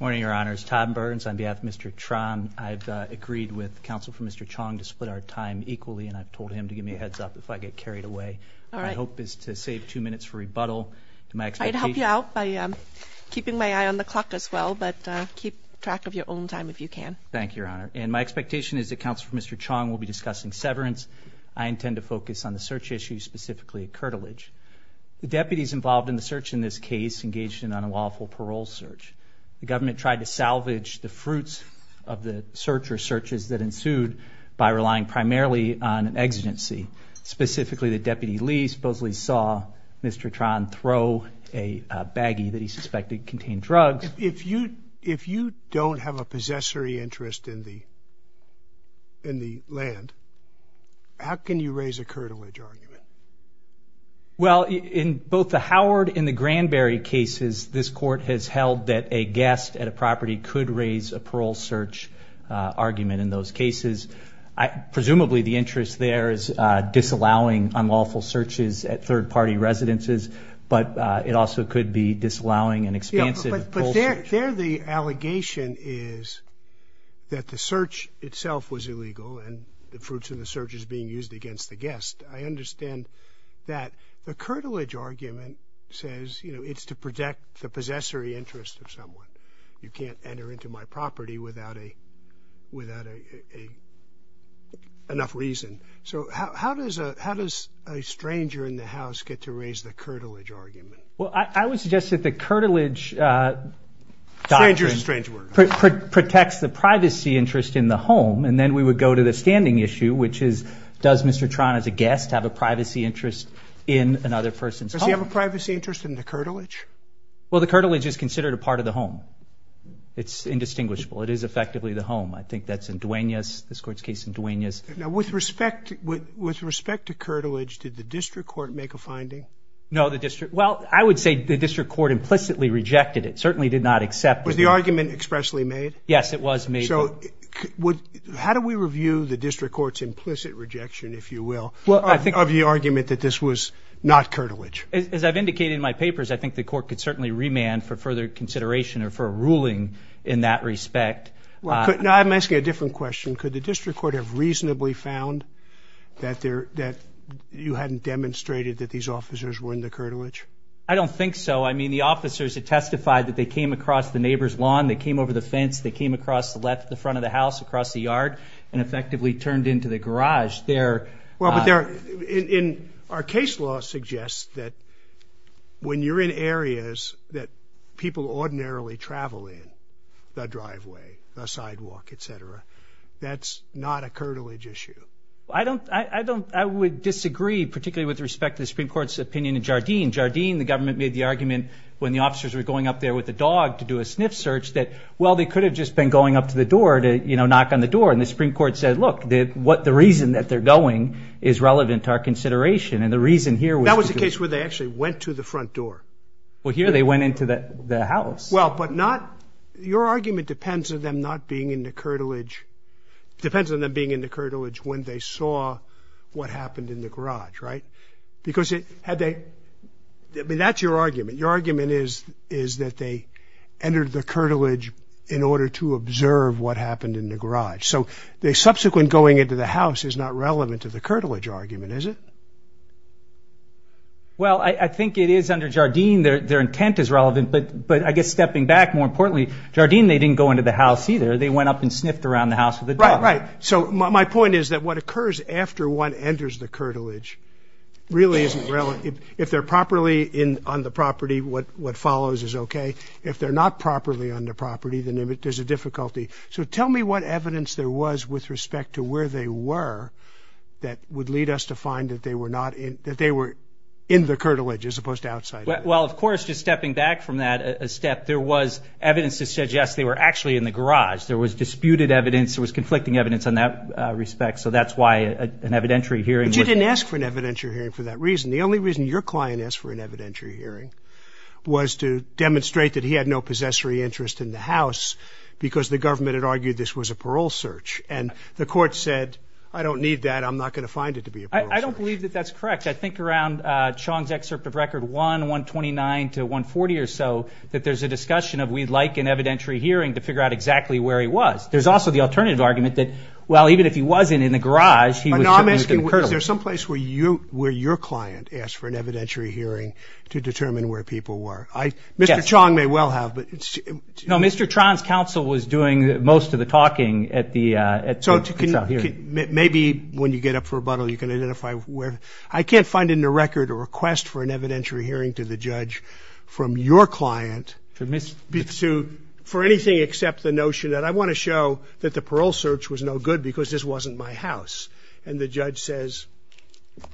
Morning, Your Honors. Tom Burns on behalf of Mr. Tron. I've agreed with counsel for Mr. Chong to split our time equally, and I've told him to give me a heads up if I get carried away. My hope is to save two minutes for rebuttal. I'd help you out by keeping my eye on the clock as well, but keep track of your own time if you can. Thank you, Your Honor. And my expectation is that counsel for Mr. Chong will be discussing severance. I intend to focus on the search issue, specifically curtilage. The deputies involved in the search in this case engaged in an unlawful parole search. The government tried to salvage the fruits of the search or searches that ensued by relying primarily on an exigency. Specifically, the deputy Lee supposedly saw Mr. Tron throw a baggie that he suspected contained drugs. If you don't have a possessory interest in the land, how can you raise a curtilage argument? Well, in both the Howard and the Granberry cases, this court has held that a guest at a property could raise a parole search argument in those cases. Presumably, the interest there is disallowing unlawful searches at third-party residences, but it also could be disallowing an expansive parole search. But there the allegation is that the search itself was illegal and the fruits of the search is being used against the guest. I understand that the curtilage argument says it's to protect the possessory interest of someone. You can't enter into my property without enough reason. So how does a stranger in the house get to raise the curtilage argument? Well, I would suggest that the curtilage doctrine protects the privacy interest in the home, and then we would go to the standing issue, which is does Mr. Tron as a guest have a privacy interest in another person's home? Does he have a privacy interest in the curtilage? Well, the curtilage is considered a part of the home. It's indistinguishable. It is effectively the home. I think that's in Duenas, this Court's case in Duenas. Well, I would say the district court implicitly rejected it, certainly did not accept it. Was the argument expressly made? Yes, it was made. So how do we review the district court's implicit rejection, if you will, of the argument that this was not curtilage? As I've indicated in my papers, I think the court could certainly remand for further consideration or for a ruling in that respect. Now I'm asking a different question. Could the district court have reasonably found that you hadn't demonstrated that these officers were in the curtilage? I don't think so. I mean, the officers had testified that they came across the neighbor's lawn, they came over the fence, they came across the front of the house, across the yard, and effectively turned into the garage. Well, but our case law suggests that when you're in areas that people ordinarily travel in, the driveway, the sidewalk, et cetera, that's not a curtilage issue. I would disagree, particularly with respect to the Supreme Court's opinion in Jardine. In Jardine, the government made the argument when the officers were going up there with the dog to do a sniff search that, well, they could have just been going up to the door to knock on the door. And the Supreme Court said, look, the reason that they're going is relevant to our consideration. And the reason here was to do a sniff search. That was the case where they actually went to the front door. Well, here they went into the house. Well, but not – your argument depends on them not being in the curtilage – depends on them being in the curtilage when they saw what happened in the garage, right? Because it – had they – I mean, that's your argument. Your argument is that they entered the curtilage in order to observe what happened in the garage. So the subsequent going into the house is not relevant to the curtilage argument, is it? Well, I think it is under Jardine. Their intent is relevant. But I guess stepping back, more importantly, Jardine, they didn't go into the house either. They went up and sniffed around the house with the dog. Right, right. So my point is that what occurs after one enters the curtilage really isn't relevant. If they're properly on the property, what follows is okay. If they're not properly on the property, then there's a difficulty. So tell me what evidence there was with respect to where they were that would lead us to find that they were not in – that they were in the curtilage as opposed to outside of it. Well, of course, just stepping back from that a step, there was evidence to suggest they were actually in the garage. There was disputed evidence. There was conflicting evidence in that respect. So that's why an evidentiary hearing was – But you didn't ask for an evidentiary hearing for that reason. The only reason your client asked for an evidentiary hearing was to demonstrate that he had no possessory interest in the house because the government had argued this was a parole search. And the court said, I don't need that. I'm not going to find it to be a parole search. I don't believe that that's correct. I think around Chong's excerpt of Record 1, 129 to 140 or so, that there's a discussion of we'd like an evidentiary hearing to figure out exactly where he was. There's also the alternative argument that, well, even if he wasn't in the garage, he was certainly in the curtilage. Is there some place where your client asked for an evidentiary hearing to determine where people were? Yes. Mr. Chong may well have. No, Mr. Tron's counsel was doing most of the talking at the trial hearing. Maybe when you get up for rebuttal, you can identify where. I can't find in the record a request for an evidentiary hearing to the judge from your client for anything except the notion that I want to show that the parole search was no good because this wasn't my house. And the judge says,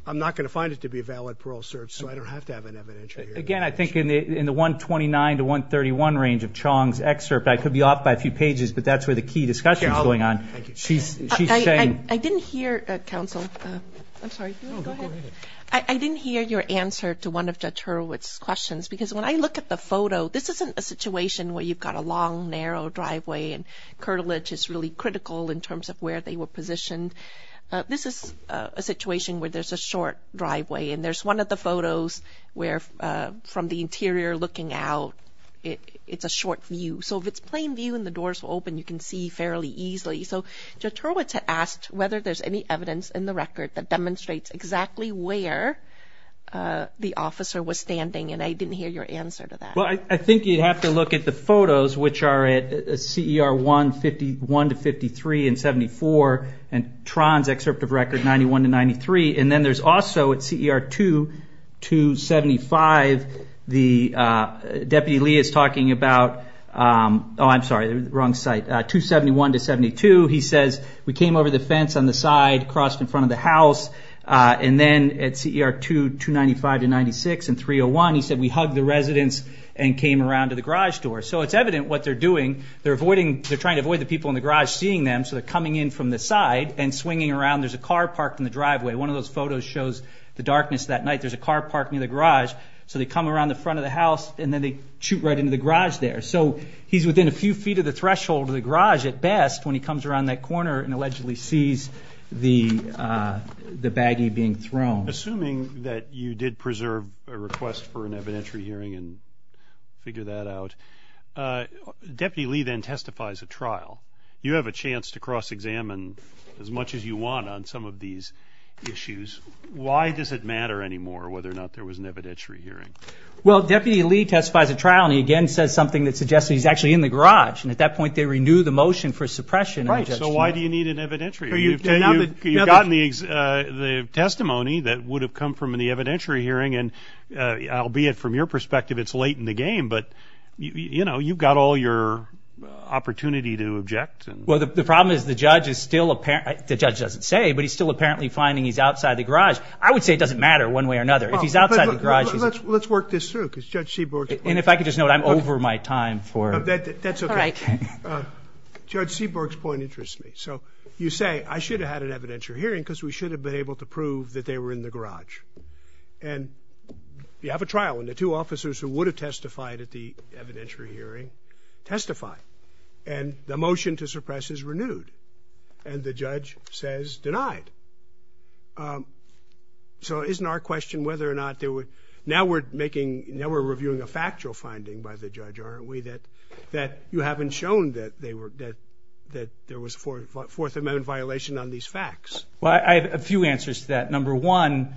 I'm not going to find it to be a valid parole search, so I don't have to have an evidentiary hearing. Again, I think in the 129 to 131 range of Chong's excerpt, I could be off by a few pages, but that's where the key discussion is going on. I didn't hear, counsel. I'm sorry. Go ahead. I didn't hear your answer to one of Judge Hurwitz's questions because when I look at the photo, this isn't a situation where you've got a long, narrow driveway, and curtilage is really critical in terms of where they were positioned. This is a situation where there's a short driveway, and there's one of the photos where from the interior looking out, it's a short view. So if it's plain view and the doors open, you can see fairly easily. So Judge Hurwitz had asked whether there's any evidence in the record that demonstrates exactly where the officer was standing, and I didn't hear your answer to that. Well, I think you'd have to look at the photos, which are at CER 151 to 53 and 74, and Tron's excerpt of record 91 to 93, and then there's also at CER 2, 275, Deputy Lee is talking about 271 to 72. He says, we came over the fence on the side, crossed in front of the house, and then at CER 2, 295 to 96 and 301, he said, we hugged the residents and came around to the garage door. So it's evident what they're doing. They're trying to avoid the people in the garage seeing them, so they're coming in from the side and swinging around. There's a car parked in the driveway. One of those photos shows the darkness that night. There's a car parked near the garage, so they come around the front of the house, and then they shoot right into the garage there. So he's within a few feet of the threshold of the garage at best when he comes around that corner and allegedly sees the baggie being thrown. Assuming that you did preserve a request for an evidentiary hearing and figure that out, Deputy Lee then testifies at trial. You have a chance to cross-examine as much as you want on some of these issues. Why does it matter anymore whether or not there was an evidentiary hearing? Well, Deputy Lee testifies at trial, and he again says something that suggests that he's actually in the garage, and at that point they renew the motion for suppression of the judge's hearing. Right, so why do you need an evidentiary hearing? You've gotten the testimony that would have come from the evidentiary hearing, and albeit from your perspective it's late in the game, but you've got all your opportunity to object. Well, the problem is the judge doesn't say, but he's still apparently finding he's outside the garage. I would say it doesn't matter one way or another. Let's work this through because Judge Seaborg's point. And if I could just note, I'm over my time. That's okay. Judge Seaborg's point interests me. So you say, I should have had an evidentiary hearing because we should have been able to prove that they were in the garage. And you have a trial, and the two officers who would have testified at the evidentiary hearing testify, and the motion to suppress is renewed, and the judge says denied. So isn't our question whether or not there were – now we're making – now we're reviewing a factual finding by the judge, aren't we, that you haven't shown that there was a Fourth Amendment violation on these facts? Well, I have a few answers to that. Number one,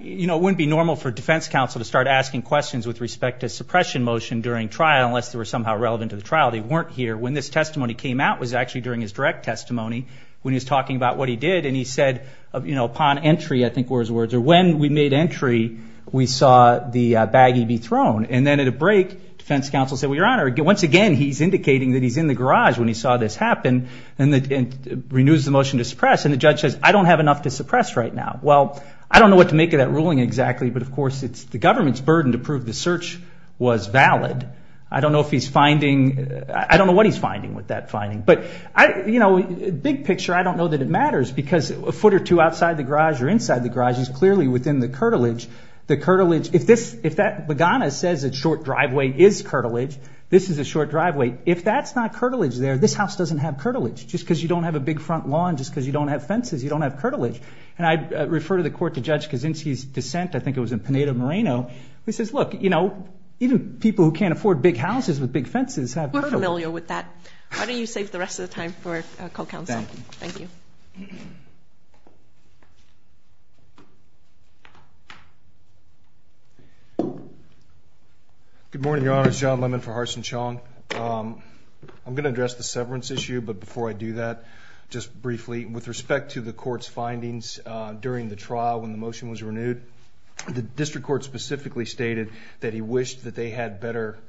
you know, it wouldn't be normal for a defense counsel to start asking questions with respect to a suppression motion during trial unless they were somehow relevant to the trial. They weren't here. When this testimony came out, it was actually during his direct testimony when he was talking about what he did, and he said, you know, upon entry, I think were his words, or when we made entry, we saw the baggie be thrown. And then at a break, defense counsel said, well, Your Honor, once again, he's indicating that he's in the garage when he saw this happen, and renews the motion to suppress, and the judge says, I don't have enough to suppress right now. Well, I don't know what to make of that ruling exactly, but, of course, it's the government's burden to prove the search was valid. I don't know if he's finding – I don't know what he's finding with that finding. But, you know, big picture, I don't know that it matters, because a foot or two outside the garage or inside the garage is clearly within the curtilage. The curtilage – if this – if that – Bagana says a short driveway is curtilage, this is a short driveway. If that's not curtilage there, this house doesn't have curtilage. Just because you don't have a big front lawn, just because you don't have fences, you don't have curtilage. And I refer to the court to Judge Kaczynski's dissent. I think it was in Pineda Moreno. He says, look, you know, even people who can't afford big houses with big fences have curtilage. I'm familiar with that. Why don't you save the rest of the time for a call counsel. Thank you. Thank you. Good morning, Your Honors. John Lemon for Harsin Chong. I'm going to address the severance issue, but before I do that, just briefly, with respect to the court's findings during the trial when the motion was renewed, the district court specifically stated that he wished that they had better –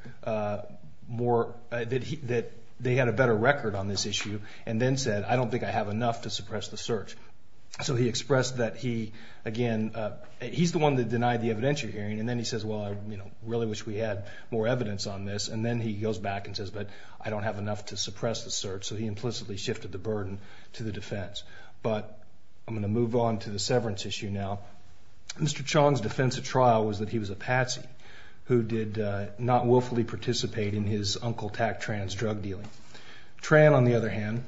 So he expressed that he, again, he's the one that denied the evidentiary hearing. And then he says, well, I really wish we had more evidence on this. And then he goes back and says, but I don't have enough to suppress the search. So he implicitly shifted the burden to the defense. But I'm going to move on to the severance issue now. Mr. Chong's defense of trial was that he was a patsy who did not willfully participate in his uncle Tack Tran's drug dealing. Tran, on the other hand,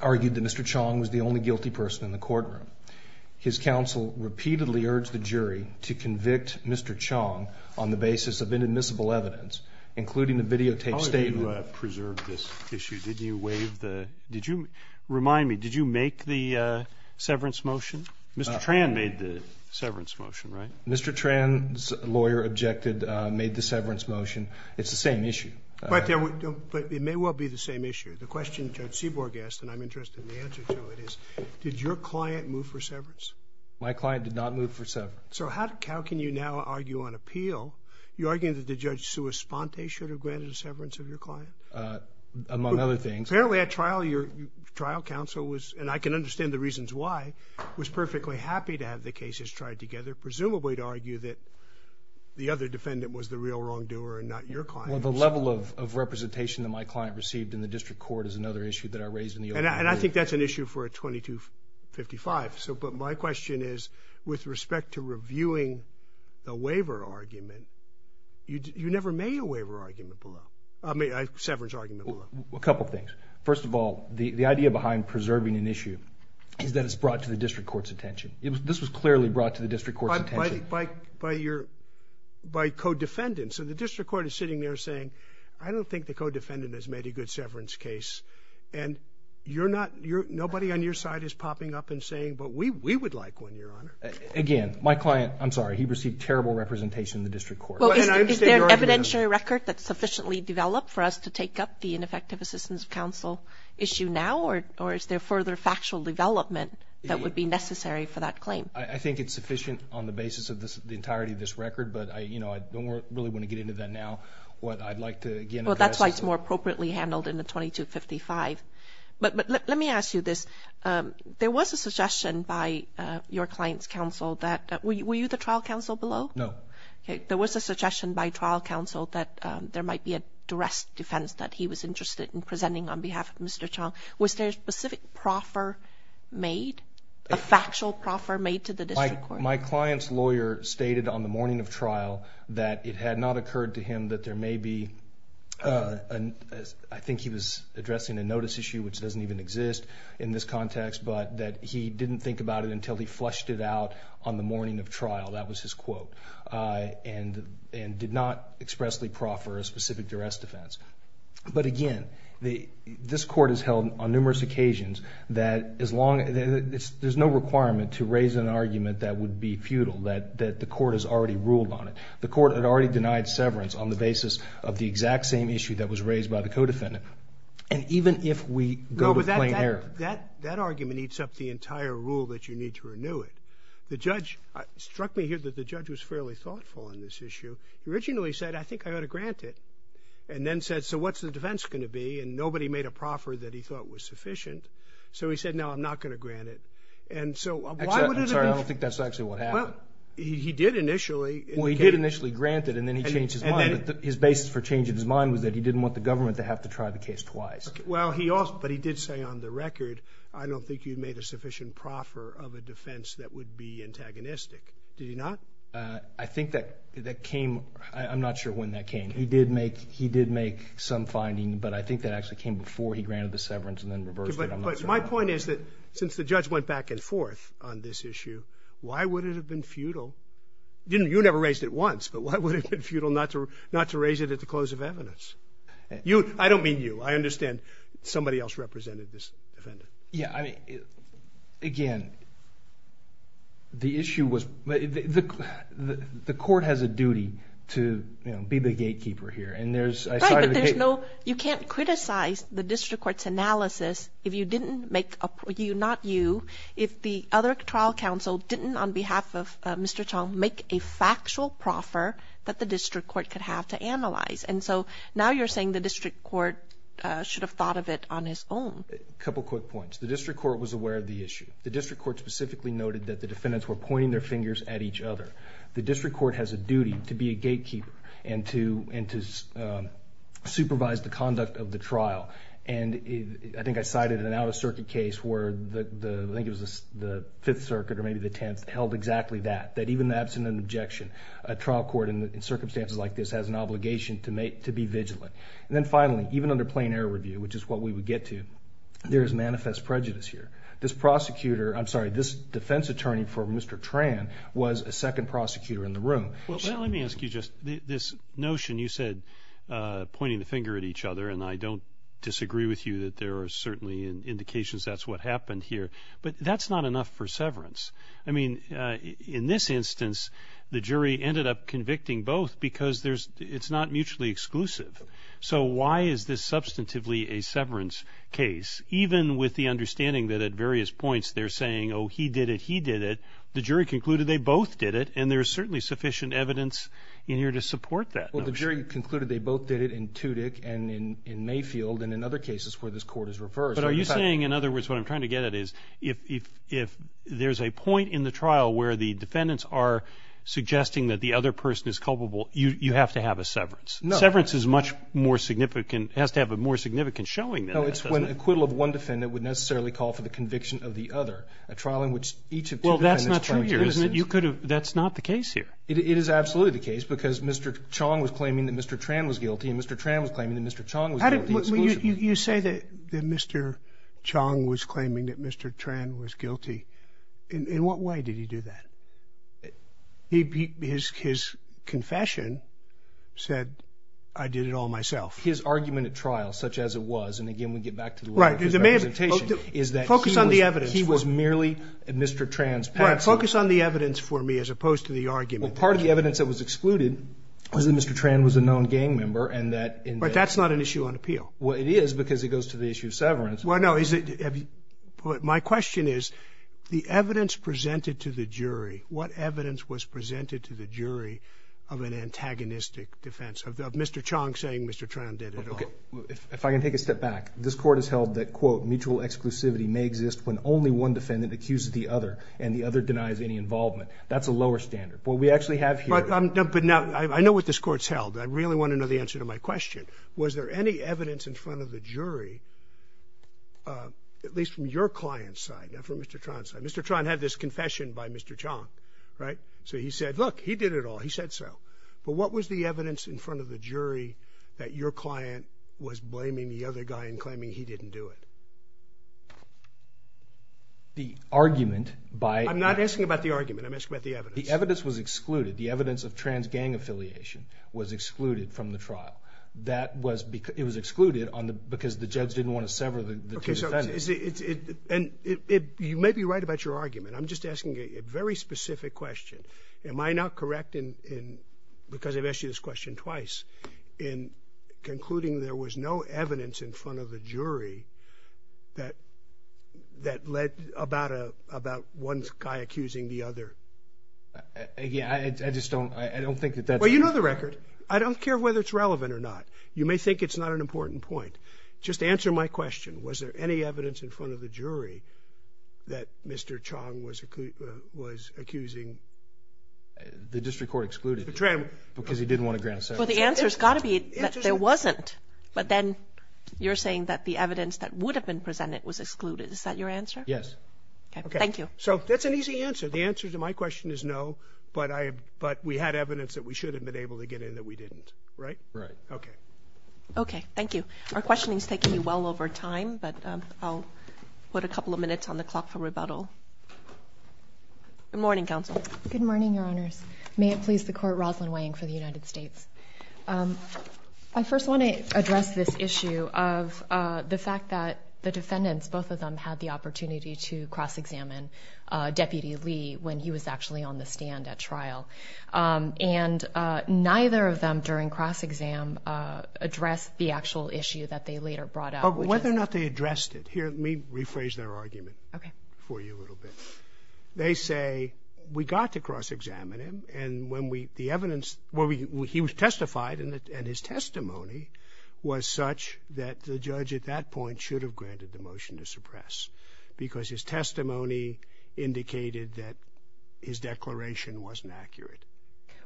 argued that Mr. Chong was the only guilty person in the courtroom. His counsel repeatedly urged the jury to convict Mr. Chong on the basis of inadmissible evidence, including the videotaped statement. How did you preserve this issue? Did you waive the – did you – remind me, did you make the severance motion? Mr. Tran made the severance motion, right? Mr. Tran's lawyer objected, made the severance motion. It's the same issue. But it may well be the same issue. The question Judge Seaborg asked, and I'm interested in the answer to it, is did your client move for severance? My client did not move for severance. So how can you now argue on appeal? You're arguing that Judge Suis-Ponte should have granted a severance of your client? Among other things. Apparently at trial, your trial counsel was – and I can understand the reasons why – was perfectly happy to have the cases tried together, presumably to argue that the other defendant was the real wrongdoer and not your client. Well, the level of representation that my client received in the district court is another issue that I raised in the open court. And I think that's an issue for a 2255. But my question is, with respect to reviewing the waiver argument, you never made a waiver argument below – I mean, a severance argument below. A couple things. First of all, the idea behind preserving an issue is that it's brought to the district court's attention. This was clearly brought to the district court's attention. By your – by co-defendants. So the district court is sitting there saying, I don't think the co-defendant has made a good severance case. And you're not – nobody on your side is popping up and saying, but we would like one, Your Honor. Again, my client – I'm sorry. He received terrible representation in the district court. Well, is there an evidentiary record that's sufficiently developed for us to take up the ineffective assistance of counsel issue now? Or is there further factual development that would be necessary for that claim? I think it's sufficient on the basis of the entirety of this record. But, you know, I don't really want to get into that now. What I'd like to, again – Well, that's why it's more appropriately handled in the 2255. But let me ask you this. There was a suggestion by your client's counsel that – were you the trial counsel below? No. Okay. There was a suggestion by trial counsel that there might be a duress defense that he was interested in presenting on behalf of Mr. Chong. Was there a specific proffer made, a factual proffer made to the district court? My client's lawyer stated on the morning of trial that it had not occurred to him that there may be – I think he was addressing a notice issue, which doesn't even exist in this context, but that he didn't think about it until he flushed it out on the morning of trial. That was his quote. And did not expressly proffer a specific duress defense. But, again, this court has held on numerous occasions that as long – there's no requirement to raise an argument that would be futile, that the court has already ruled on it. The court had already denied severance on the basis of the exact same issue that was raised by the co-defendant. And even if we go to plain error – No, but that argument eats up the entire rule that you need to renew it. The judge – it struck me here that the judge was fairly thoughtful on this issue. He originally said, I think I ought to grant it. And then said, so what's the defense going to be? And nobody made a proffer that he thought was sufficient. So he said, no, I'm not going to grant it. And so why would it have been – I'm sorry, I don't think that's actually what happened. He did initially – Well, he did initially grant it, and then he changed his mind. His basis for changing his mind was that he didn't want the government to have to try the case twice. Well, he – but he did say on the record, I don't think you've made a sufficient proffer of a defense that would be antagonistic. Did he not? I think that came – I'm not sure when that came. He did make – he did make some finding, but I think that actually came before he granted the severance and then reversed it. But my point is that since the judge went back and forth on this issue, why would it have been futile – you never raised it once, but why would it have been futile not to raise it at the close of evidence? You – I don't mean you. I understand somebody else represented this defendant. Yeah, I mean, again, the issue was – the court has a duty to be the gatekeeper here, and there's – Right, but there's no – you can't criticize the district court's analysis if you didn't make – you, not you – if the other trial counsel didn't, on behalf of Mr. Chong, make a factual proffer that the district court could have to analyze. And so now you're saying the district court should have thought of it on his own. A couple quick points. The district court was aware of the issue. The district court specifically noted that the defendants were pointing their fingers at each other. The district court has a duty to be a gatekeeper and to supervise the conduct of the trial. And I think I cited an out-of-circuit case where the – I think it was the Fifth Circuit or maybe the Tenth held exactly that, that even in the absence of an objection, a trial court in circumstances like this has an obligation to be vigilant. And then finally, even under plain error review, which is what we would get to, there is manifest prejudice here. This prosecutor – I'm sorry, this defense attorney for Mr. Tran was a second prosecutor in the room. Well, let me ask you just – this notion you said, pointing the finger at each other, and I don't disagree with you that there are certainly indications that's what happened here, but that's not enough for severance. I mean, in this instance, the jury ended up convicting both because there's – it's not mutually exclusive. So why is this substantively a severance case, even with the understanding that at various points they're saying, oh, he did it, he did it. The jury concluded they both did it, and there's certainly sufficient evidence in here to support that notion. Well, the jury concluded they both did it in Tudyk and in Mayfield and in other cases where this court is reversed. But are you saying, in other words, what I'm trying to get at is if there's a point in the trial where the defendants are suggesting that the other person is culpable, you have to have a severance? No. Severance is much more significant – has to have a more significant showing than this, doesn't it? No. It's when acquittal of one defendant would necessarily call for the conviction of the other, a trial in which each of two defendants – Well, that's not true here, isn't it? You could have – that's not the case here. It is absolutely the case because Mr. Chong was claiming that Mr. Tran was guilty and Mr. Tran was claiming that Mr. Chong was guilty. How did – you say that Mr. Chong was claiming that Mr. Tran was guilty. In what way did he do that? His confession said, I did it all myself. His argument at trial, such as it was, and again we get back to the letter of his representation, is that he was merely Mr. Tran's patsy. Right. Focus on the evidence for me as opposed to the argument. Well, part of the evidence that was excluded was that Mr. Tran was a known gang member and that – But that's not an issue on appeal. Well, it is because it goes to the issue of severance. Well, no. My question is, the evidence presented to the jury, what evidence was presented to the jury of an antagonistic defense, of Mr. Chong saying Mr. Tran did it all? Okay. If I can take a step back, this Court has held that, quote, mutual exclusivity may exist when only one defendant accuses the other and the other denies any involvement. That's a lower standard. What we actually have here – But now, I know what this Court's held. I really want to know the answer to my question. Was there any evidence in front of the jury, at least from your client's side, not from Mr. Tran's side – Mr. Tran had this confession by Mr. Chong, right? So he said, look, he did it all. He said so. But what was the evidence in front of the jury that your client was blaming the other guy and claiming he didn't do it? The argument by – I'm not asking about the argument. I'm asking about the evidence. The evidence was excluded. The evidence of trans-gang affiliation was excluded from the trial. It was excluded because the judge didn't want to sever the two defendants. And you may be right about your argument. I'm just asking a very specific question. Am I not correct in – because I've asked you this question twice – in concluding there was no evidence in front of the jury that led – about one guy accusing the other? Yeah, I just don't – I don't think that that's – Well, you know the record. I don't care whether it's relevant or not. You may think it's not an important point. Just answer my question. Was there any evidence in front of the jury that Mr. Chong was accusing – The district court excluded him because he didn't want to grant a severance. Well, the answer has got to be that there wasn't. But then you're saying that the evidence that would have been presented was excluded. Is that your answer? Yes. Okay, thank you. So that's an easy answer. The answer to my question is no, but we had evidence that we should have been able to get in that we didn't, right? Right. Okay. Okay, thank you. Our questioning is taking you well over time, but I'll put a couple of minutes on the clock for rebuttal. Good morning, counsel. Good morning, Your Honors. May it please the Court, Rosalyn Wang for the United States. I first want to address this issue of the fact that the defendants, both of them had the opportunity to cross-examine Deputy Lee when he was actually on the stand at trial, and neither of them during cross-exam addressed the actual issue that they later brought up. Whether or not they addressed it, here, let me rephrase their argument for you a little bit. They say, we got to cross-examine him, and when we – the evidence – well, he was testified, and his testimony was such that the judge at that point should have granted the motion to suppress, because his testimony indicated that his declaration wasn't accurate.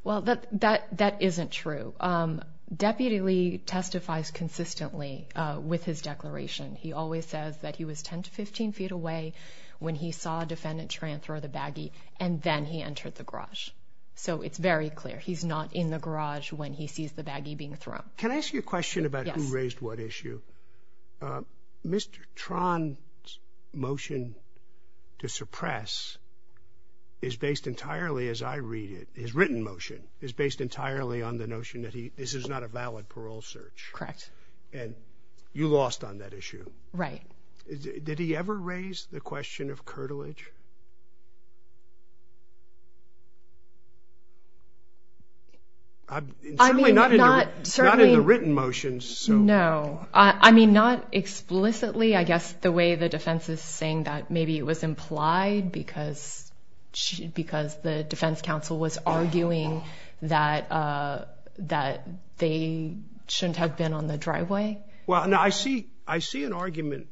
Well, that isn't true. Deputy Lee testifies consistently with his declaration. He always says that he was 10 to 15 feet away when he saw a defendant try and throw the baggie, and then he entered the garage. So it's very clear he's not in the garage when he sees the baggie being thrown. Now, can I ask you a question about who raised what issue? Mr. Tron's motion to suppress is based entirely, as I read it – his written motion is based entirely on the notion that this is not a valid parole search. Correct. And you lost on that issue. Right. Did he ever raise the question of curtilage? Certainly not in the written motions. No. I mean, not explicitly. I guess the way the defense is saying that maybe it was implied because the defense counsel was arguing that they shouldn't have been on the driveway. Well, no, I see an argument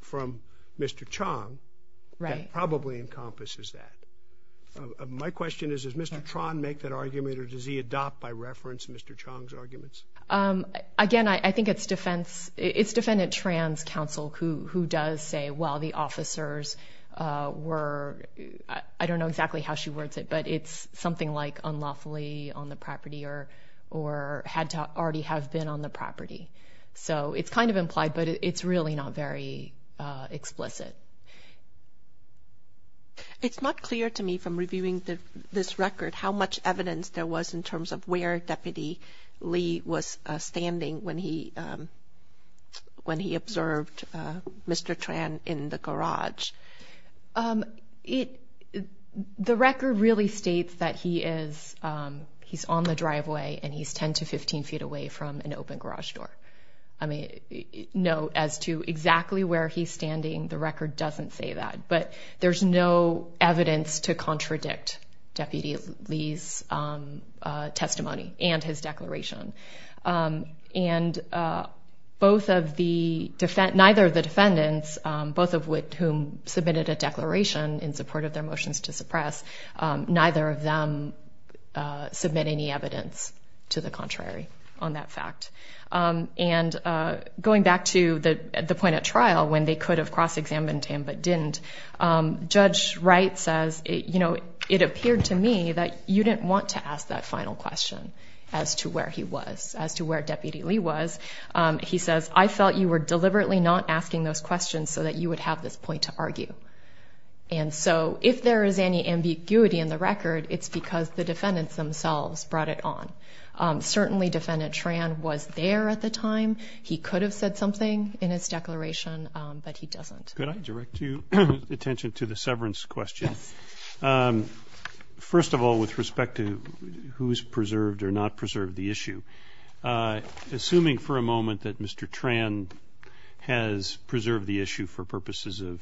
from Mr. Chong. Right. It probably encompasses that. My question is, does Mr. Tron make that argument or does he adopt by reference Mr. Chong's arguments? Again, I think it's defendant Tran's counsel who does say, well, the officers were – I don't know exactly how she words it, but it's something like unlawfully on the property or had to already have been on the property. So it's kind of implied, but it's really not very explicit. It's not clear to me from reviewing this record how much evidence there was in terms of where Deputy Lee was standing when he observed Mr. Tran in the garage. The record really states that he is on the driveway and he's 10 to 15 feet away from an open garage door. I mean, no, as to exactly where he's standing, the record doesn't say that. But there's no evidence to contradict Deputy Lee's testimony and his declaration. And both of the – neither of the defendants, both of whom submitted a declaration in support of their motions to suppress, neither of them submit any evidence to the contrary on that fact. And going back to the point at trial when they could have cross-examined him but didn't, Judge Wright says, you know, it appeared to me that you didn't want to ask that final question as to where he was, as to where Deputy Lee was. He says, I felt you were deliberately not asking those questions so that you would have this point to argue. And so if there is any ambiguity in the record, it's because the defendants themselves brought it on. Certainly, Defendant Tran was there at the time. He could have said something in his declaration, but he doesn't. Could I direct your attention to the severance question? Yes. First of all, with respect to who's preserved or not preserved the issue, assuming for a moment that Mr. Tran has preserved the issue for purposes of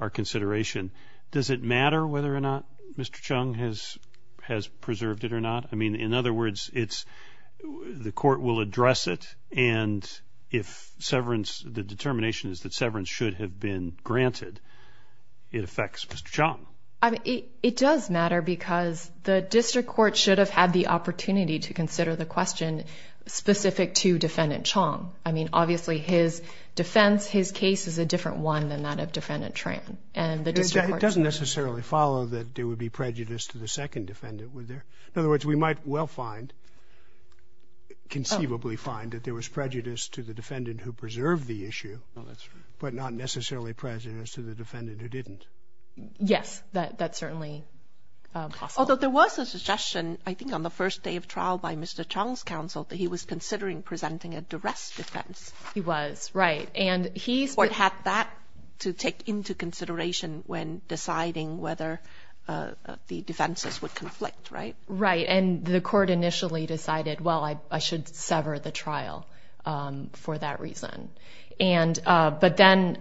our consideration, does it matter whether or not Mr. Chung has preserved it or not? I mean, in other words, it's – the court will address it, and if severance – the determination is that severance should have been granted, it affects Mr. Chung. I mean, it does matter because the district court should have had the opportunity to consider the question specific to Defendant Chung. I mean, obviously, his defense, his case is a different one than that of Defendant Tran. And the district court – It doesn't necessarily follow that there would be prejudice to the second defendant. In other words, we might well find – conceivably find that there was prejudice to the defendant who preserved the issue, but not necessarily prejudice to the defendant who didn't. Yes, that's certainly possible. Although there was a suggestion, I think on the first day of trial by Mr. Chung's counsel, that he was considering presenting a duress defense. He was, right. And he's – The court had that to take into consideration when deciding whether the defenses would conflict, right? Right. And the court initially decided, well, I should sever the trial for that reason. And – but then,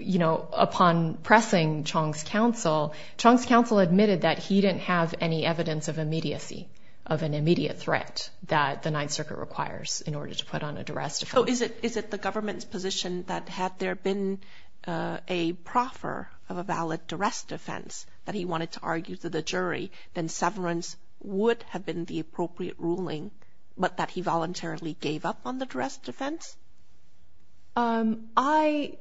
you know, upon pressing Chung's counsel, Chung's counsel admitted that he didn't have any evidence of immediacy, of an immediate threat that the Ninth Circuit requires in order to put on a duress defense. So is it the government's position that had there been a proffer of a valid duress defense that he wanted to argue to the jury, then severance would have been the appropriate ruling, but that he voluntarily gave up on the duress defense? I –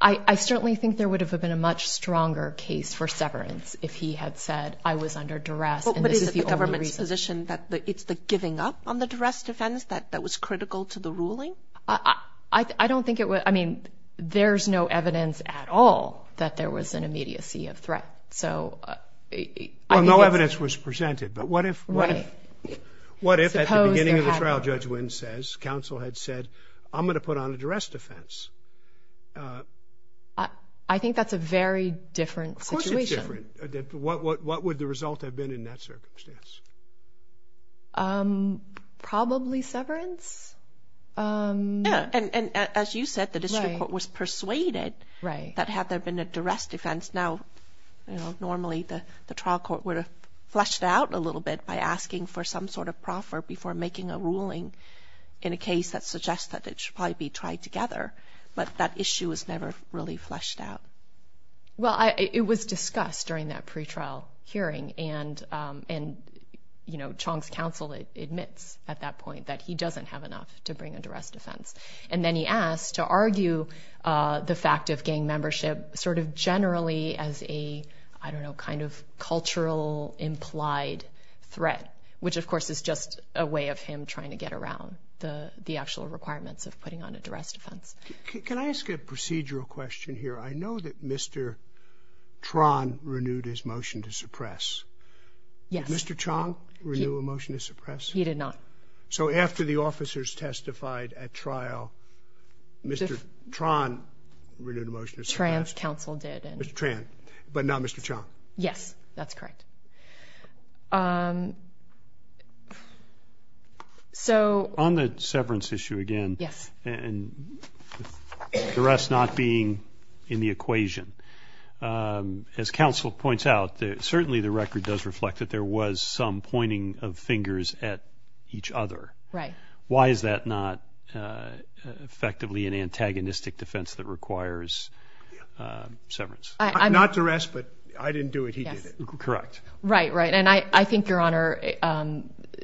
I certainly think there would have been a much stronger case for severance if he had said, I was under duress and this is the only reason. But is it the government's position that it's the giving up on the duress defense that was critical to the ruling? I don't think it was – I mean, there's no evidence at all that there was an immediacy of threat. So – Well, no evidence was presented. But what if – what if – what if at the beginning of the trial, Judge Wynn says, counsel had said, I'm going to put on a duress defense? I think that's a very different situation. Of course it's different. What would the result have been in that circumstance? Probably severance. Yeah. And as you said, the district court was persuaded that had there been a duress defense, now normally the trial court would have fleshed out a little bit by asking for some sort of proffer before making a ruling in a case that suggests that it should probably be tried together. But that issue was never really fleshed out. Well, it was discussed during that pretrial hearing, and Chong's counsel admits at that point that he doesn't have enough to bring a duress defense. And then he asked to argue the fact of gang membership sort of generally as a, I don't know, kind of cultural implied threat, which of course is just a way of him trying to get around the actual requirements of putting on a duress defense. Can I ask a procedural question here? I know that Mr. Tran renewed his motion to suppress. Yes. Did Mr. Tran renew a motion to suppress? He did not. So after the officers testified at trial, Mr. Tran renewed a motion to suppress? Tran's counsel did. Mr. Tran, but not Mr. Chong? Yes, that's correct. On the severance issue again, and duress not being in the equation, as counsel points out, certainly the record does reflect that there was some pointing of fingers at each other. Right. Why is that not effectively an antagonistic defense that requires severance? Not duress, but I didn't do it, he did it. Correct. Right, right. And I think Your Honor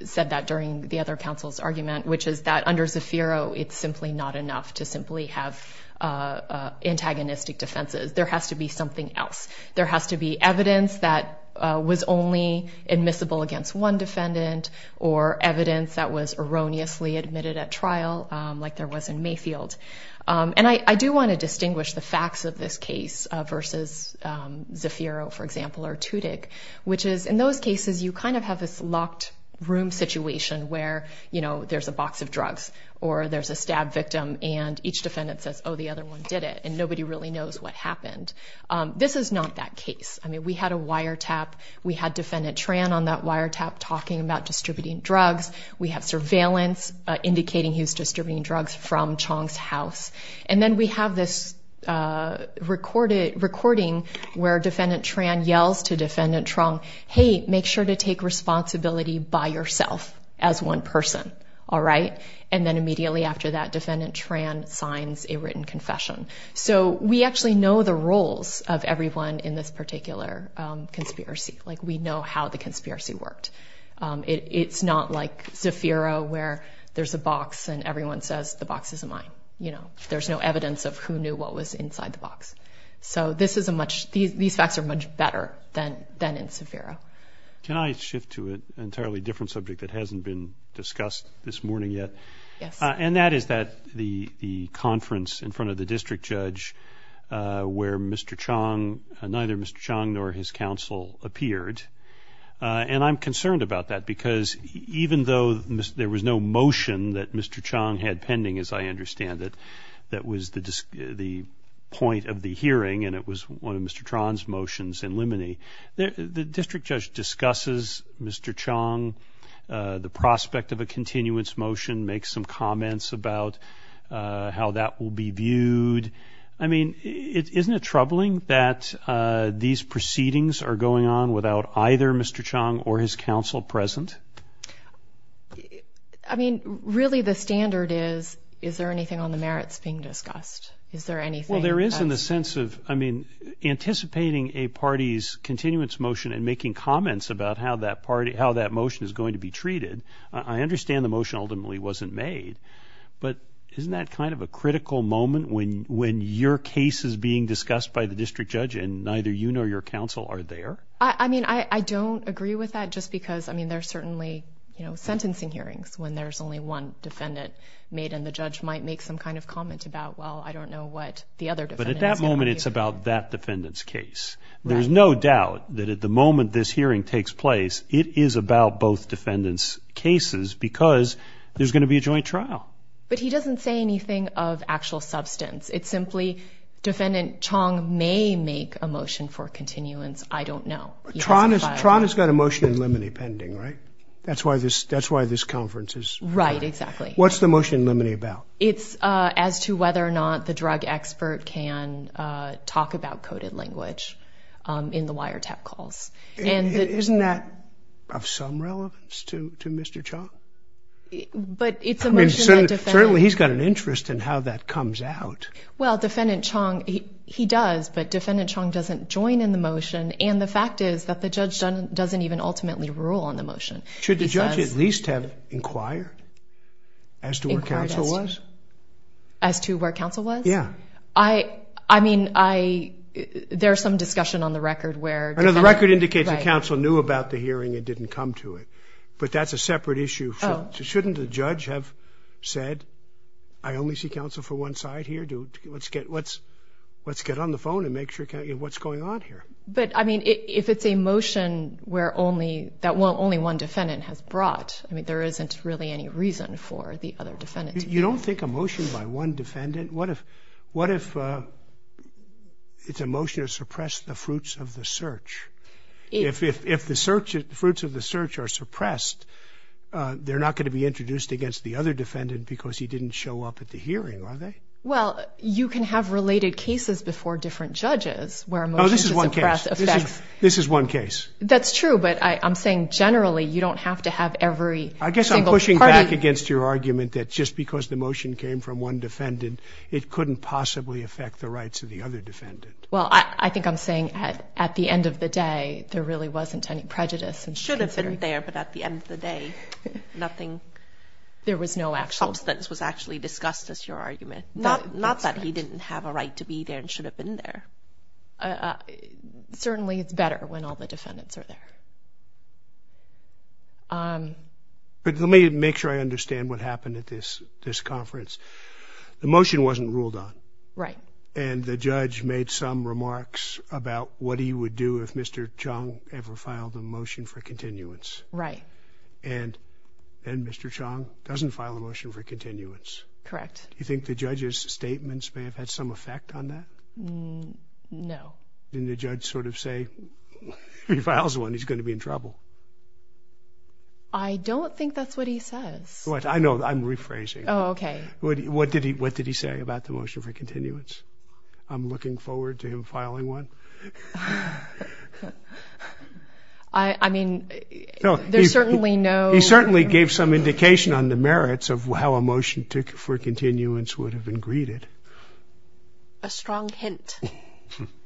said that during the other counsel's argument, which is that under Zafiro, it's simply not enough to simply have antagonistic defenses. There has to be something else. There has to be evidence that was only admissible against one defendant, or evidence that was erroneously admitted at trial, like there was in Mayfield. And I do want to distinguish the facts of this case versus Zafiro, for example, or Tutic, which is in those cases you kind of have this locked room situation where there's a box of drugs, or there's a stab victim, and each defendant says, oh, the other one did it, and nobody really knows what happened. This is not that case. I mean, we had a wiretap. We had Defendant Tran on that wiretap talking about distributing drugs. We have surveillance indicating he was distributing drugs from Chong's house. And then we have this recording where Defendant Tran yells to Defendant Truong, hey, make sure to take responsibility by yourself as one person, all right? And then immediately after that, Defendant Tran signs a written confession. So we actually know the roles of everyone in this particular conspiracy. Like we know how the conspiracy worked. It's not like Zafiro where there's a box and everyone says the box isn't mine, you know. There's no evidence of who knew what was inside the box. So this is a much ñ these facts are much better than in Zafiro. Can I shift to an entirely different subject that hasn't been discussed this morning yet? Yes. And that is that the conference in front of the district judge where Mr. Chong, neither Mr. Chong nor his counsel appeared. And I'm concerned about that because even though there was no motion that Mr. Chong had pending, as I understand it, that was the point of the hearing and it was one of Mr. Tran's motions in limine, the district judge discusses Mr. Chong, the prospect of a continuance motion, makes some comments about how that will be viewed. And, I mean, isn't it troubling that these proceedings are going on without either Mr. Chong or his counsel present? I mean, really the standard is, is there anything on the merits being discussed? Is there anything? Well, there is in the sense of, I mean, anticipating a party's continuance motion and making comments about how that motion is going to be treated. I understand the motion ultimately wasn't made. But isn't that kind of a critical moment when your case is being discussed by the district judge and neither you nor your counsel are there? I mean, I don't agree with that just because, I mean, there are certainly, you know, sentencing hearings when there's only one defendant made and the judge might make some kind of comment about, well, I don't know what the other defendant is going to do. But at that moment it's about that defendant's case. Right. There's no doubt that at the moment this hearing takes place, it is about both defendants' cases because there's going to be a joint trial. But he doesn't say anything of actual substance. It's simply defendant Chong may make a motion for continuance. I don't know. Tron has got a motion in limine pending, right? That's why this conference is. Right, exactly. What's the motion in limine about? It's as to whether or not the drug expert can talk about coded language in the wiretap calls. Isn't that of some relevance to Mr. Chong? But it's a motion that defends. Certainly he's got an interest in how that comes out. Well, Defendant Chong, he does, but Defendant Chong doesn't join in the motion and the fact is that the judge doesn't even ultimately rule on the motion. Should the judge at least have inquired as to where counsel was? As to where counsel was? Yeah. I mean, there's some discussion on the record where. I know the record indicates that counsel knew about the hearing and didn't come to it, but that's a separate issue. Shouldn't the judge have said, I only see counsel for one side here. Let's get on the phone and make sure what's going on here. But, I mean, if it's a motion that only one defendant has brought, I mean, there isn't really any reason for the other defendant. You don't think a motion by one defendant. What if it's a motion to suppress the fruits of the search? If the fruits of the search are suppressed, they're not going to be introduced against the other defendant because he didn't show up at the hearing, are they? Well, you can have related cases before different judges where a motion to suppress affects. Oh, this is one case. This is one case. That's true, but I'm saying generally you don't have to have every single party. I'm back against your argument that just because the motion came from one defendant, it couldn't possibly affect the rights of the other defendant. Well, I think I'm saying at the end of the day, there really wasn't any prejudice. Should have been there, but at the end of the day, nothing. There was no actual. Substance was actually discussed as your argument. Not that he didn't have a right to be there and should have been there. Certainly it's better when all the defendants are there. But let me make sure I understand what happened at this conference. The motion wasn't ruled on. Right. And the judge made some remarks about what he would do if Mr. Chong ever filed a motion for continuance. Right. And Mr. Chong doesn't file a motion for continuance. Correct. Do you think the judge's statements may have had some effect on that? No. Didn't the judge sort of say if he files one, he's going to be in trouble? I don't think that's what he says. I know. I'm rephrasing. Oh, okay. What did he say about the motion for continuance? I'm looking forward to him filing one. I mean, there's certainly no. He certainly gave some indication on the merits of how a motion for continuance would have been greeted. A strong hint.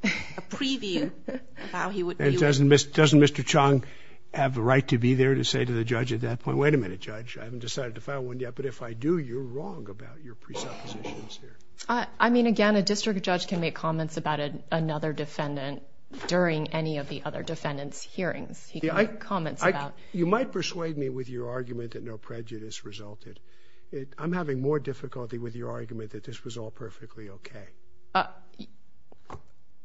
A preview of how he would view it. And doesn't Mr. Chong have the right to be there to say to the judge at that point, wait a minute, judge, I haven't decided to file one yet, but if I do, you're wrong about your presuppositions here. I mean, again, a district judge can make comments about another defendant during any of the other defendant's hearings. He can make comments about. You might persuade me with your argument that no prejudice resulted. I'm having more difficulty with your argument that this was all perfectly okay.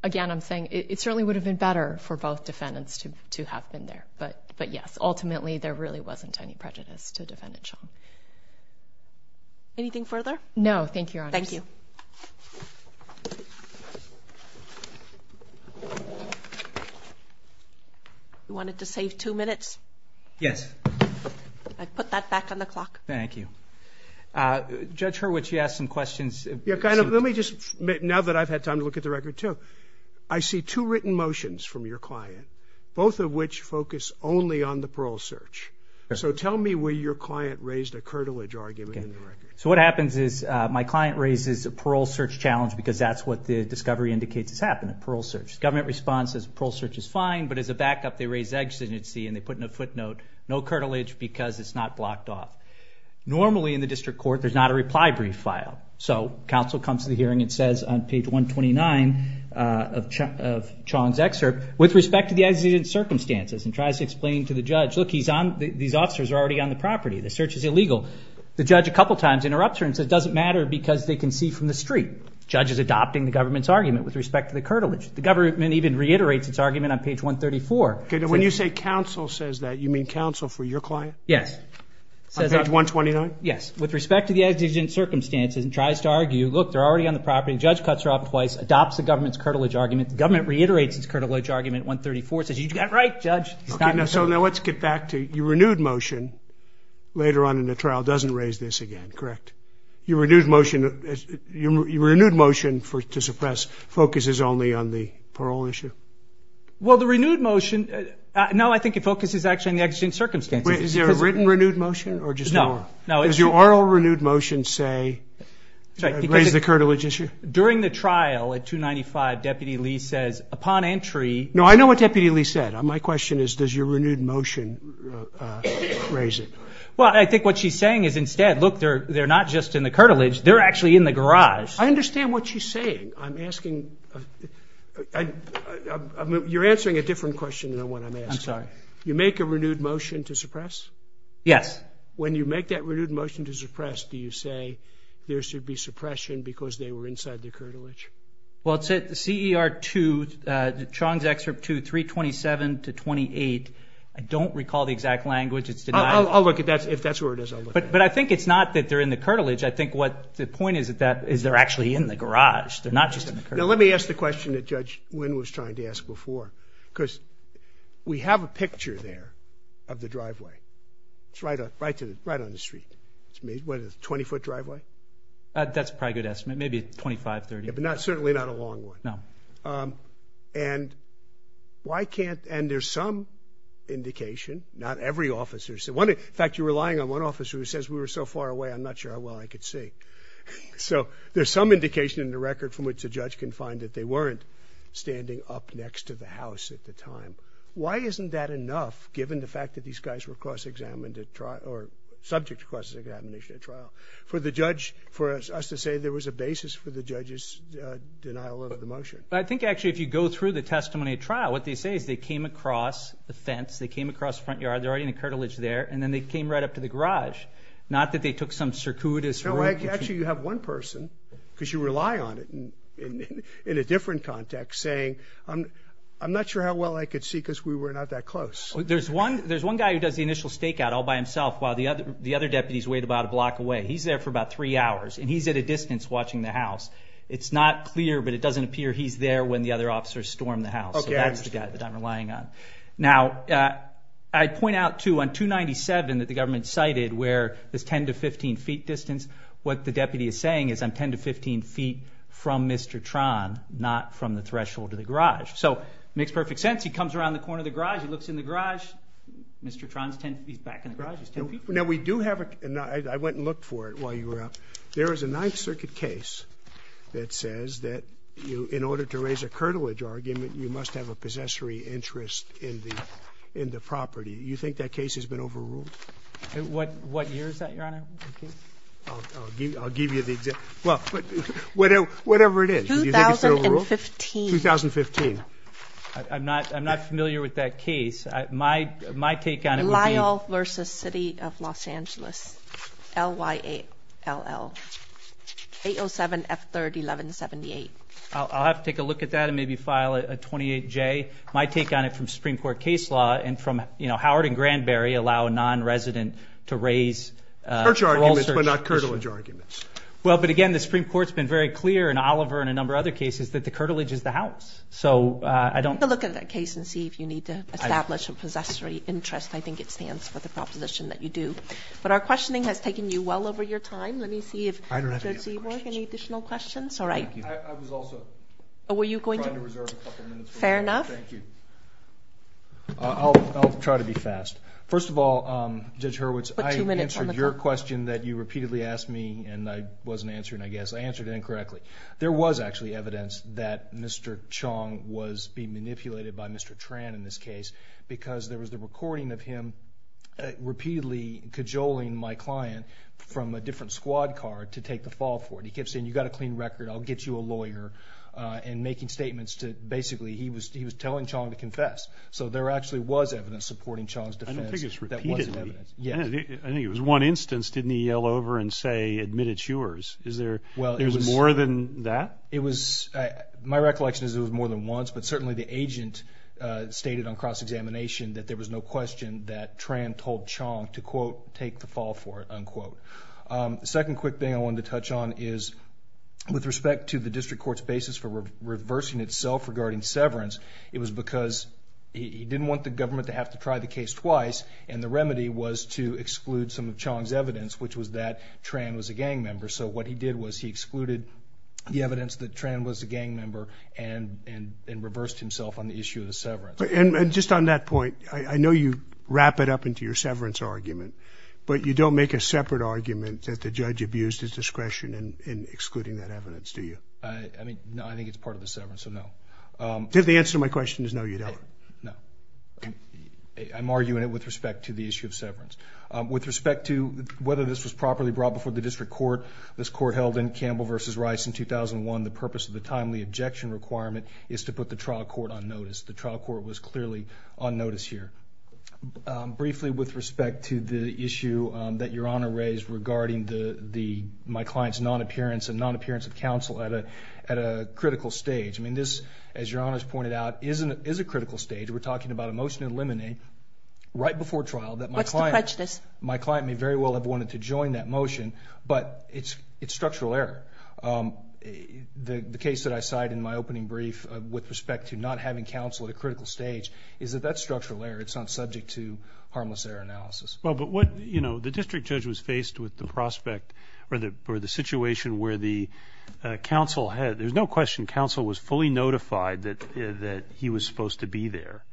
Again, I'm saying it certainly would have been better for both defendants to have been there. But yes, ultimately, there really wasn't any prejudice to Defendant Chong. Anything further? No, thank you, Your Honor. Thank you. You wanted to save two minutes? Yes. I put that back on the clock. Thank you. Judge Hurwitz, you asked some questions. Yeah, kind of. Let me just, now that I've had time to look at the record, too. I see two written motions from your client, both of which focus only on the parole search. So tell me where your client raised a curtilage argument in the record. Okay. So what happens is my client raises a parole search challenge because that's what the discovery indicates has happened, a parole search. Government response is parole search is fine, but as a backup, they raise exigency and they put in a footnote, no curtilage because it's not blocked off. Normally in the district court, there's not a reply brief file. So counsel comes to the hearing and says on page 129 of Chong's excerpt, with respect to the exigent circumstances, and tries to explain to the judge, look, these officers are already on the property. The search is illegal. The judge a couple times interrupts her and says it doesn't matter because they can see from the street. The judge is adopting the government's argument with respect to the curtilage. The government even reiterates its argument on page 134. When you say counsel says that, you mean counsel for your client? Yes. On page 129? Yes. With respect to the exigent circumstances and tries to argue, look, they're already on the property. The judge cuts her off twice, adopts the government's curtilage argument. The government reiterates its curtilage argument at 134, says you got it right, judge. So now let's get back to your renewed motion later on in the trial doesn't raise this again, correct? Your renewed motion to suppress focuses only on the parole issue? Well, the renewed motion, no, I think it focuses actually on the exigent circumstances. Is there a written renewed motion or just oral? No, no. Does your oral renewed motion say, raise the curtilage issue? During the trial at 295, Deputy Lee says, upon entry. No, I know what Deputy Lee said. My question is, does your renewed motion raise it? Well, I think what she's saying is instead, look, they're not just in the curtilage, they're actually in the garage. I understand what she's saying. I'm asking, you're answering a different question than the one I'm asking. I'm sorry. You make a renewed motion to suppress? Yes. When you make that renewed motion to suppress, do you say there should be suppression because they were inside the curtilage? Well, it said the CER 2, Chong's excerpt 2, 327 to 28. I don't recall the exact language. I'll look at that. If that's where it is, I'll look at it. But I think it's not that they're in the curtilage. I think what the point is that they're actually in the garage. They're not just in the curtilage. Now, let me ask the question that Judge Wynn was trying to ask before because we have a picture there of the driveway. It's right on the street. It's a 20-foot driveway? That's probably a good estimate, maybe 25, 30. But certainly not a long one. No. And there's some indication, not every officer. In fact, you're relying on one officer who says we were so far away, I'm not sure how well I could see. So there's some indication in the record from which a judge can find that they weren't standing up next to the house at the time. Why isn't that enough, given the fact that these guys were cross-examined at trial or subject to cross-examination at trial, for the judge, for us to say there was a basis for the judge's denial of the motion? I think, actually, if you go through the testimony at trial, what they say is they came across the fence, they came across the front yard, they're already in the curtilage there, and then they came right up to the garage. Not that they took some circuitous route. No, actually, you have one person because you rely on it in a different context, saying I'm not sure how well I could see because we were not that close. There's one guy who does the initial stakeout all by himself while the other deputies wait about a block away. He's there for about three hours, and he's at a distance watching the house. It's not clear, but it doesn't appear he's there when the other officers storm the house. So that's the guy that I'm relying on. Now, I'd point out, too, on 297 that the government cited where there's 10 to 15 feet distance, what the deputy is saying is I'm 10 to 15 feet from Mr. Tron, not from the threshold of the garage. So it makes perfect sense. He comes around the corner of the garage, he looks in the garage. Mr. Tron, he's back in the garage. Now, we do have a ñ I went and looked for it while you were up. There is a Ninth Circuit case that says that in order to raise a curtilage argument, you must have a possessory interest in the property. Do you think that case has been overruled? What year is that, Your Honor? I'll give you the ñ well, whatever it is. 2015. 2015. I'm not familiar with that case. My take on it would be ñ Lyall v. City of Los Angeles, L-Y-A-L-L, 807-F30-1178. I'll have to take a look at that and maybe file a 28-J. My take on it from Supreme Court case law and from, you know, Howard and Granberry allow a nonresident to raise ñ Church arguments but not curtilage arguments. Well, but, again, the Supreme Court's been very clear in Oliver and a number of other cases that the curtilage is the house. So I don't ñ But our questioning has taken you well over your time. Let me see if ñ I don't have any other questions. Any additional questions? All right. I was also trying to reserve a couple of minutes. Fair enough. Thank you. I'll try to be fast. First of all, Judge Hurwitz, I answered your question that you repeatedly asked me and I wasn't answering, I guess. I answered it incorrectly. There was actually evidence that Mr. Chong was being manipulated by Mr. Tran in this case because there was the recording of him repeatedly cajoling my client from a different squad car to take the fall for it. He kept saying, you've got a clean record, I'll get you a lawyer, and making statements to basically ñ he was telling Chong to confess. So there actually was evidence supporting Chong's defense that wasn't evidence. I don't think it's repeatedly. Yes. I think it was one instance, didn't he yell over and say, admit it's yours? Is there ñ Well, it was ñ There was more than that? It was ñ my recollection is it was more than once, but certainly the agent stated on cross-examination that there was no question that Tran told Chong to, quote, take the fall for it, unquote. The second quick thing I wanted to touch on is, with respect to the district court's basis for reversing itself regarding severance, it was because he didn't want the government to have to try the case twice, and the remedy was to exclude some of Chong's evidence, which was that Tran was a gang member. So what he did was he excluded the evidence that Tran was a gang member and reversed himself on the issue of the severance. And just on that point, I know you wrap it up into your severance argument, but you don't make a separate argument that the judge abused his discretion in excluding that evidence, do you? I mean, no, I think it's part of the severance, so no. The answer to my question is no, you don't. No. Okay. I'm arguing it with respect to the issue of severance. With respect to whether this was properly brought before the district court, this court held in Campbell v. Rice in 2001, the purpose of the timely objection requirement is to put the trial court on notice. The trial court was clearly on notice here. Briefly, with respect to the issue that Your Honor raised regarding my client's non-appearance and non-appearance of counsel at a critical stage, I mean, this, as Your Honor has pointed out, is a critical stage. We're talking about a motion to eliminate right before trial that my client My client may very well have wanted to join that motion, but it's structural error. The case that I cited in my opening brief with respect to not having counsel at a critical stage is that that's structural error. It's not subject to harmless error analysis. Well, but what, you know, the district judge was faced with the prospect or the situation where the counsel had, there's no question, counsel was fully notified that he was supposed to be there.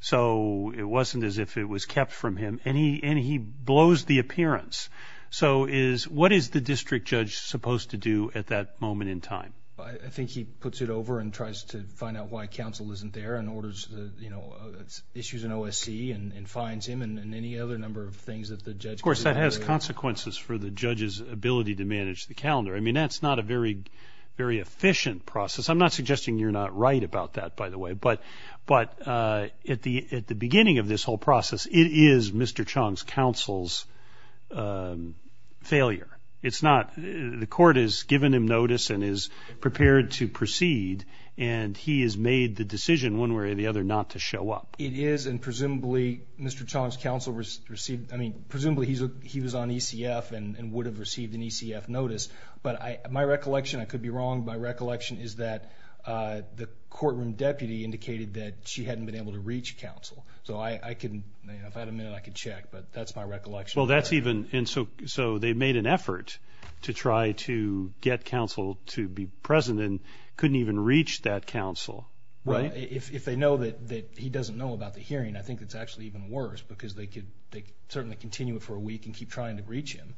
So it wasn't as if it was kept from him, and he blows the appearance. So is, what is the district judge supposed to do at that moment in time? I think he puts it over and tries to find out why counsel isn't there and orders, you know, issues an OSC and fines him and any other number of things that the judge Of course, that has consequences for the judge's ability to manage the calendar. I mean, that's not a very efficient process. I'm not suggesting you're not right about that, by the way, but at the beginning of this whole process, it is Mr. Chong's counsel's failure. It's not. The court has given him notice and is prepared to proceed, and he has made the decision one way or the other not to show up. It is, and presumably Mr. Chong's counsel received, I mean, presumably he was on ECF and would have received an ECF notice, but my recollection, I could be wrong, my recollection is that the courtroom deputy indicated that she hadn't been able to reach counsel. So I can, if I had a minute, I could check, but that's my recollection. Well, that's even, and so they made an effort to try to get counsel to be present and couldn't even reach that counsel. Well, if they know that he doesn't know about the hearing, I think it's actually even worse because they could certainly continue it for a week and keep trying to reach him.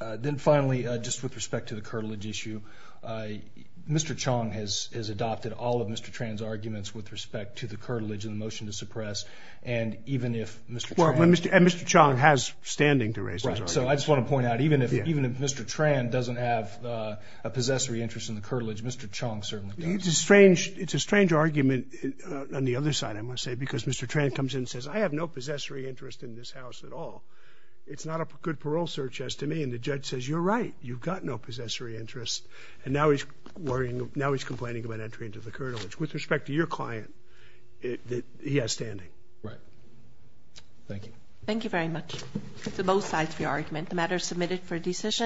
Then finally, just with respect to the curtilage issue, Mr. Chong has adopted all of Mr. Tran's arguments with respect to the curtilage and the motion to suppress, and even if Mr. Tran has. Well, and Mr. Chong has standing to raise those arguments. Right. So I just want to point out, even if Mr. Tran doesn't have a possessory interest in the curtilage, Mr. Chong certainly does. It's a strange argument on the other side, I must say, because Mr. Tran comes in and says, I have no possessory interest in this house at all. It's not a good parole search, as to me. And the judge says, You're right. You've got no possessory interest. And now he's complaining about entry into the curtilage. With respect to your client, he has standing. Right. Thank you. Thank you very much. That's both sides of your argument. The matter is submitted for decision.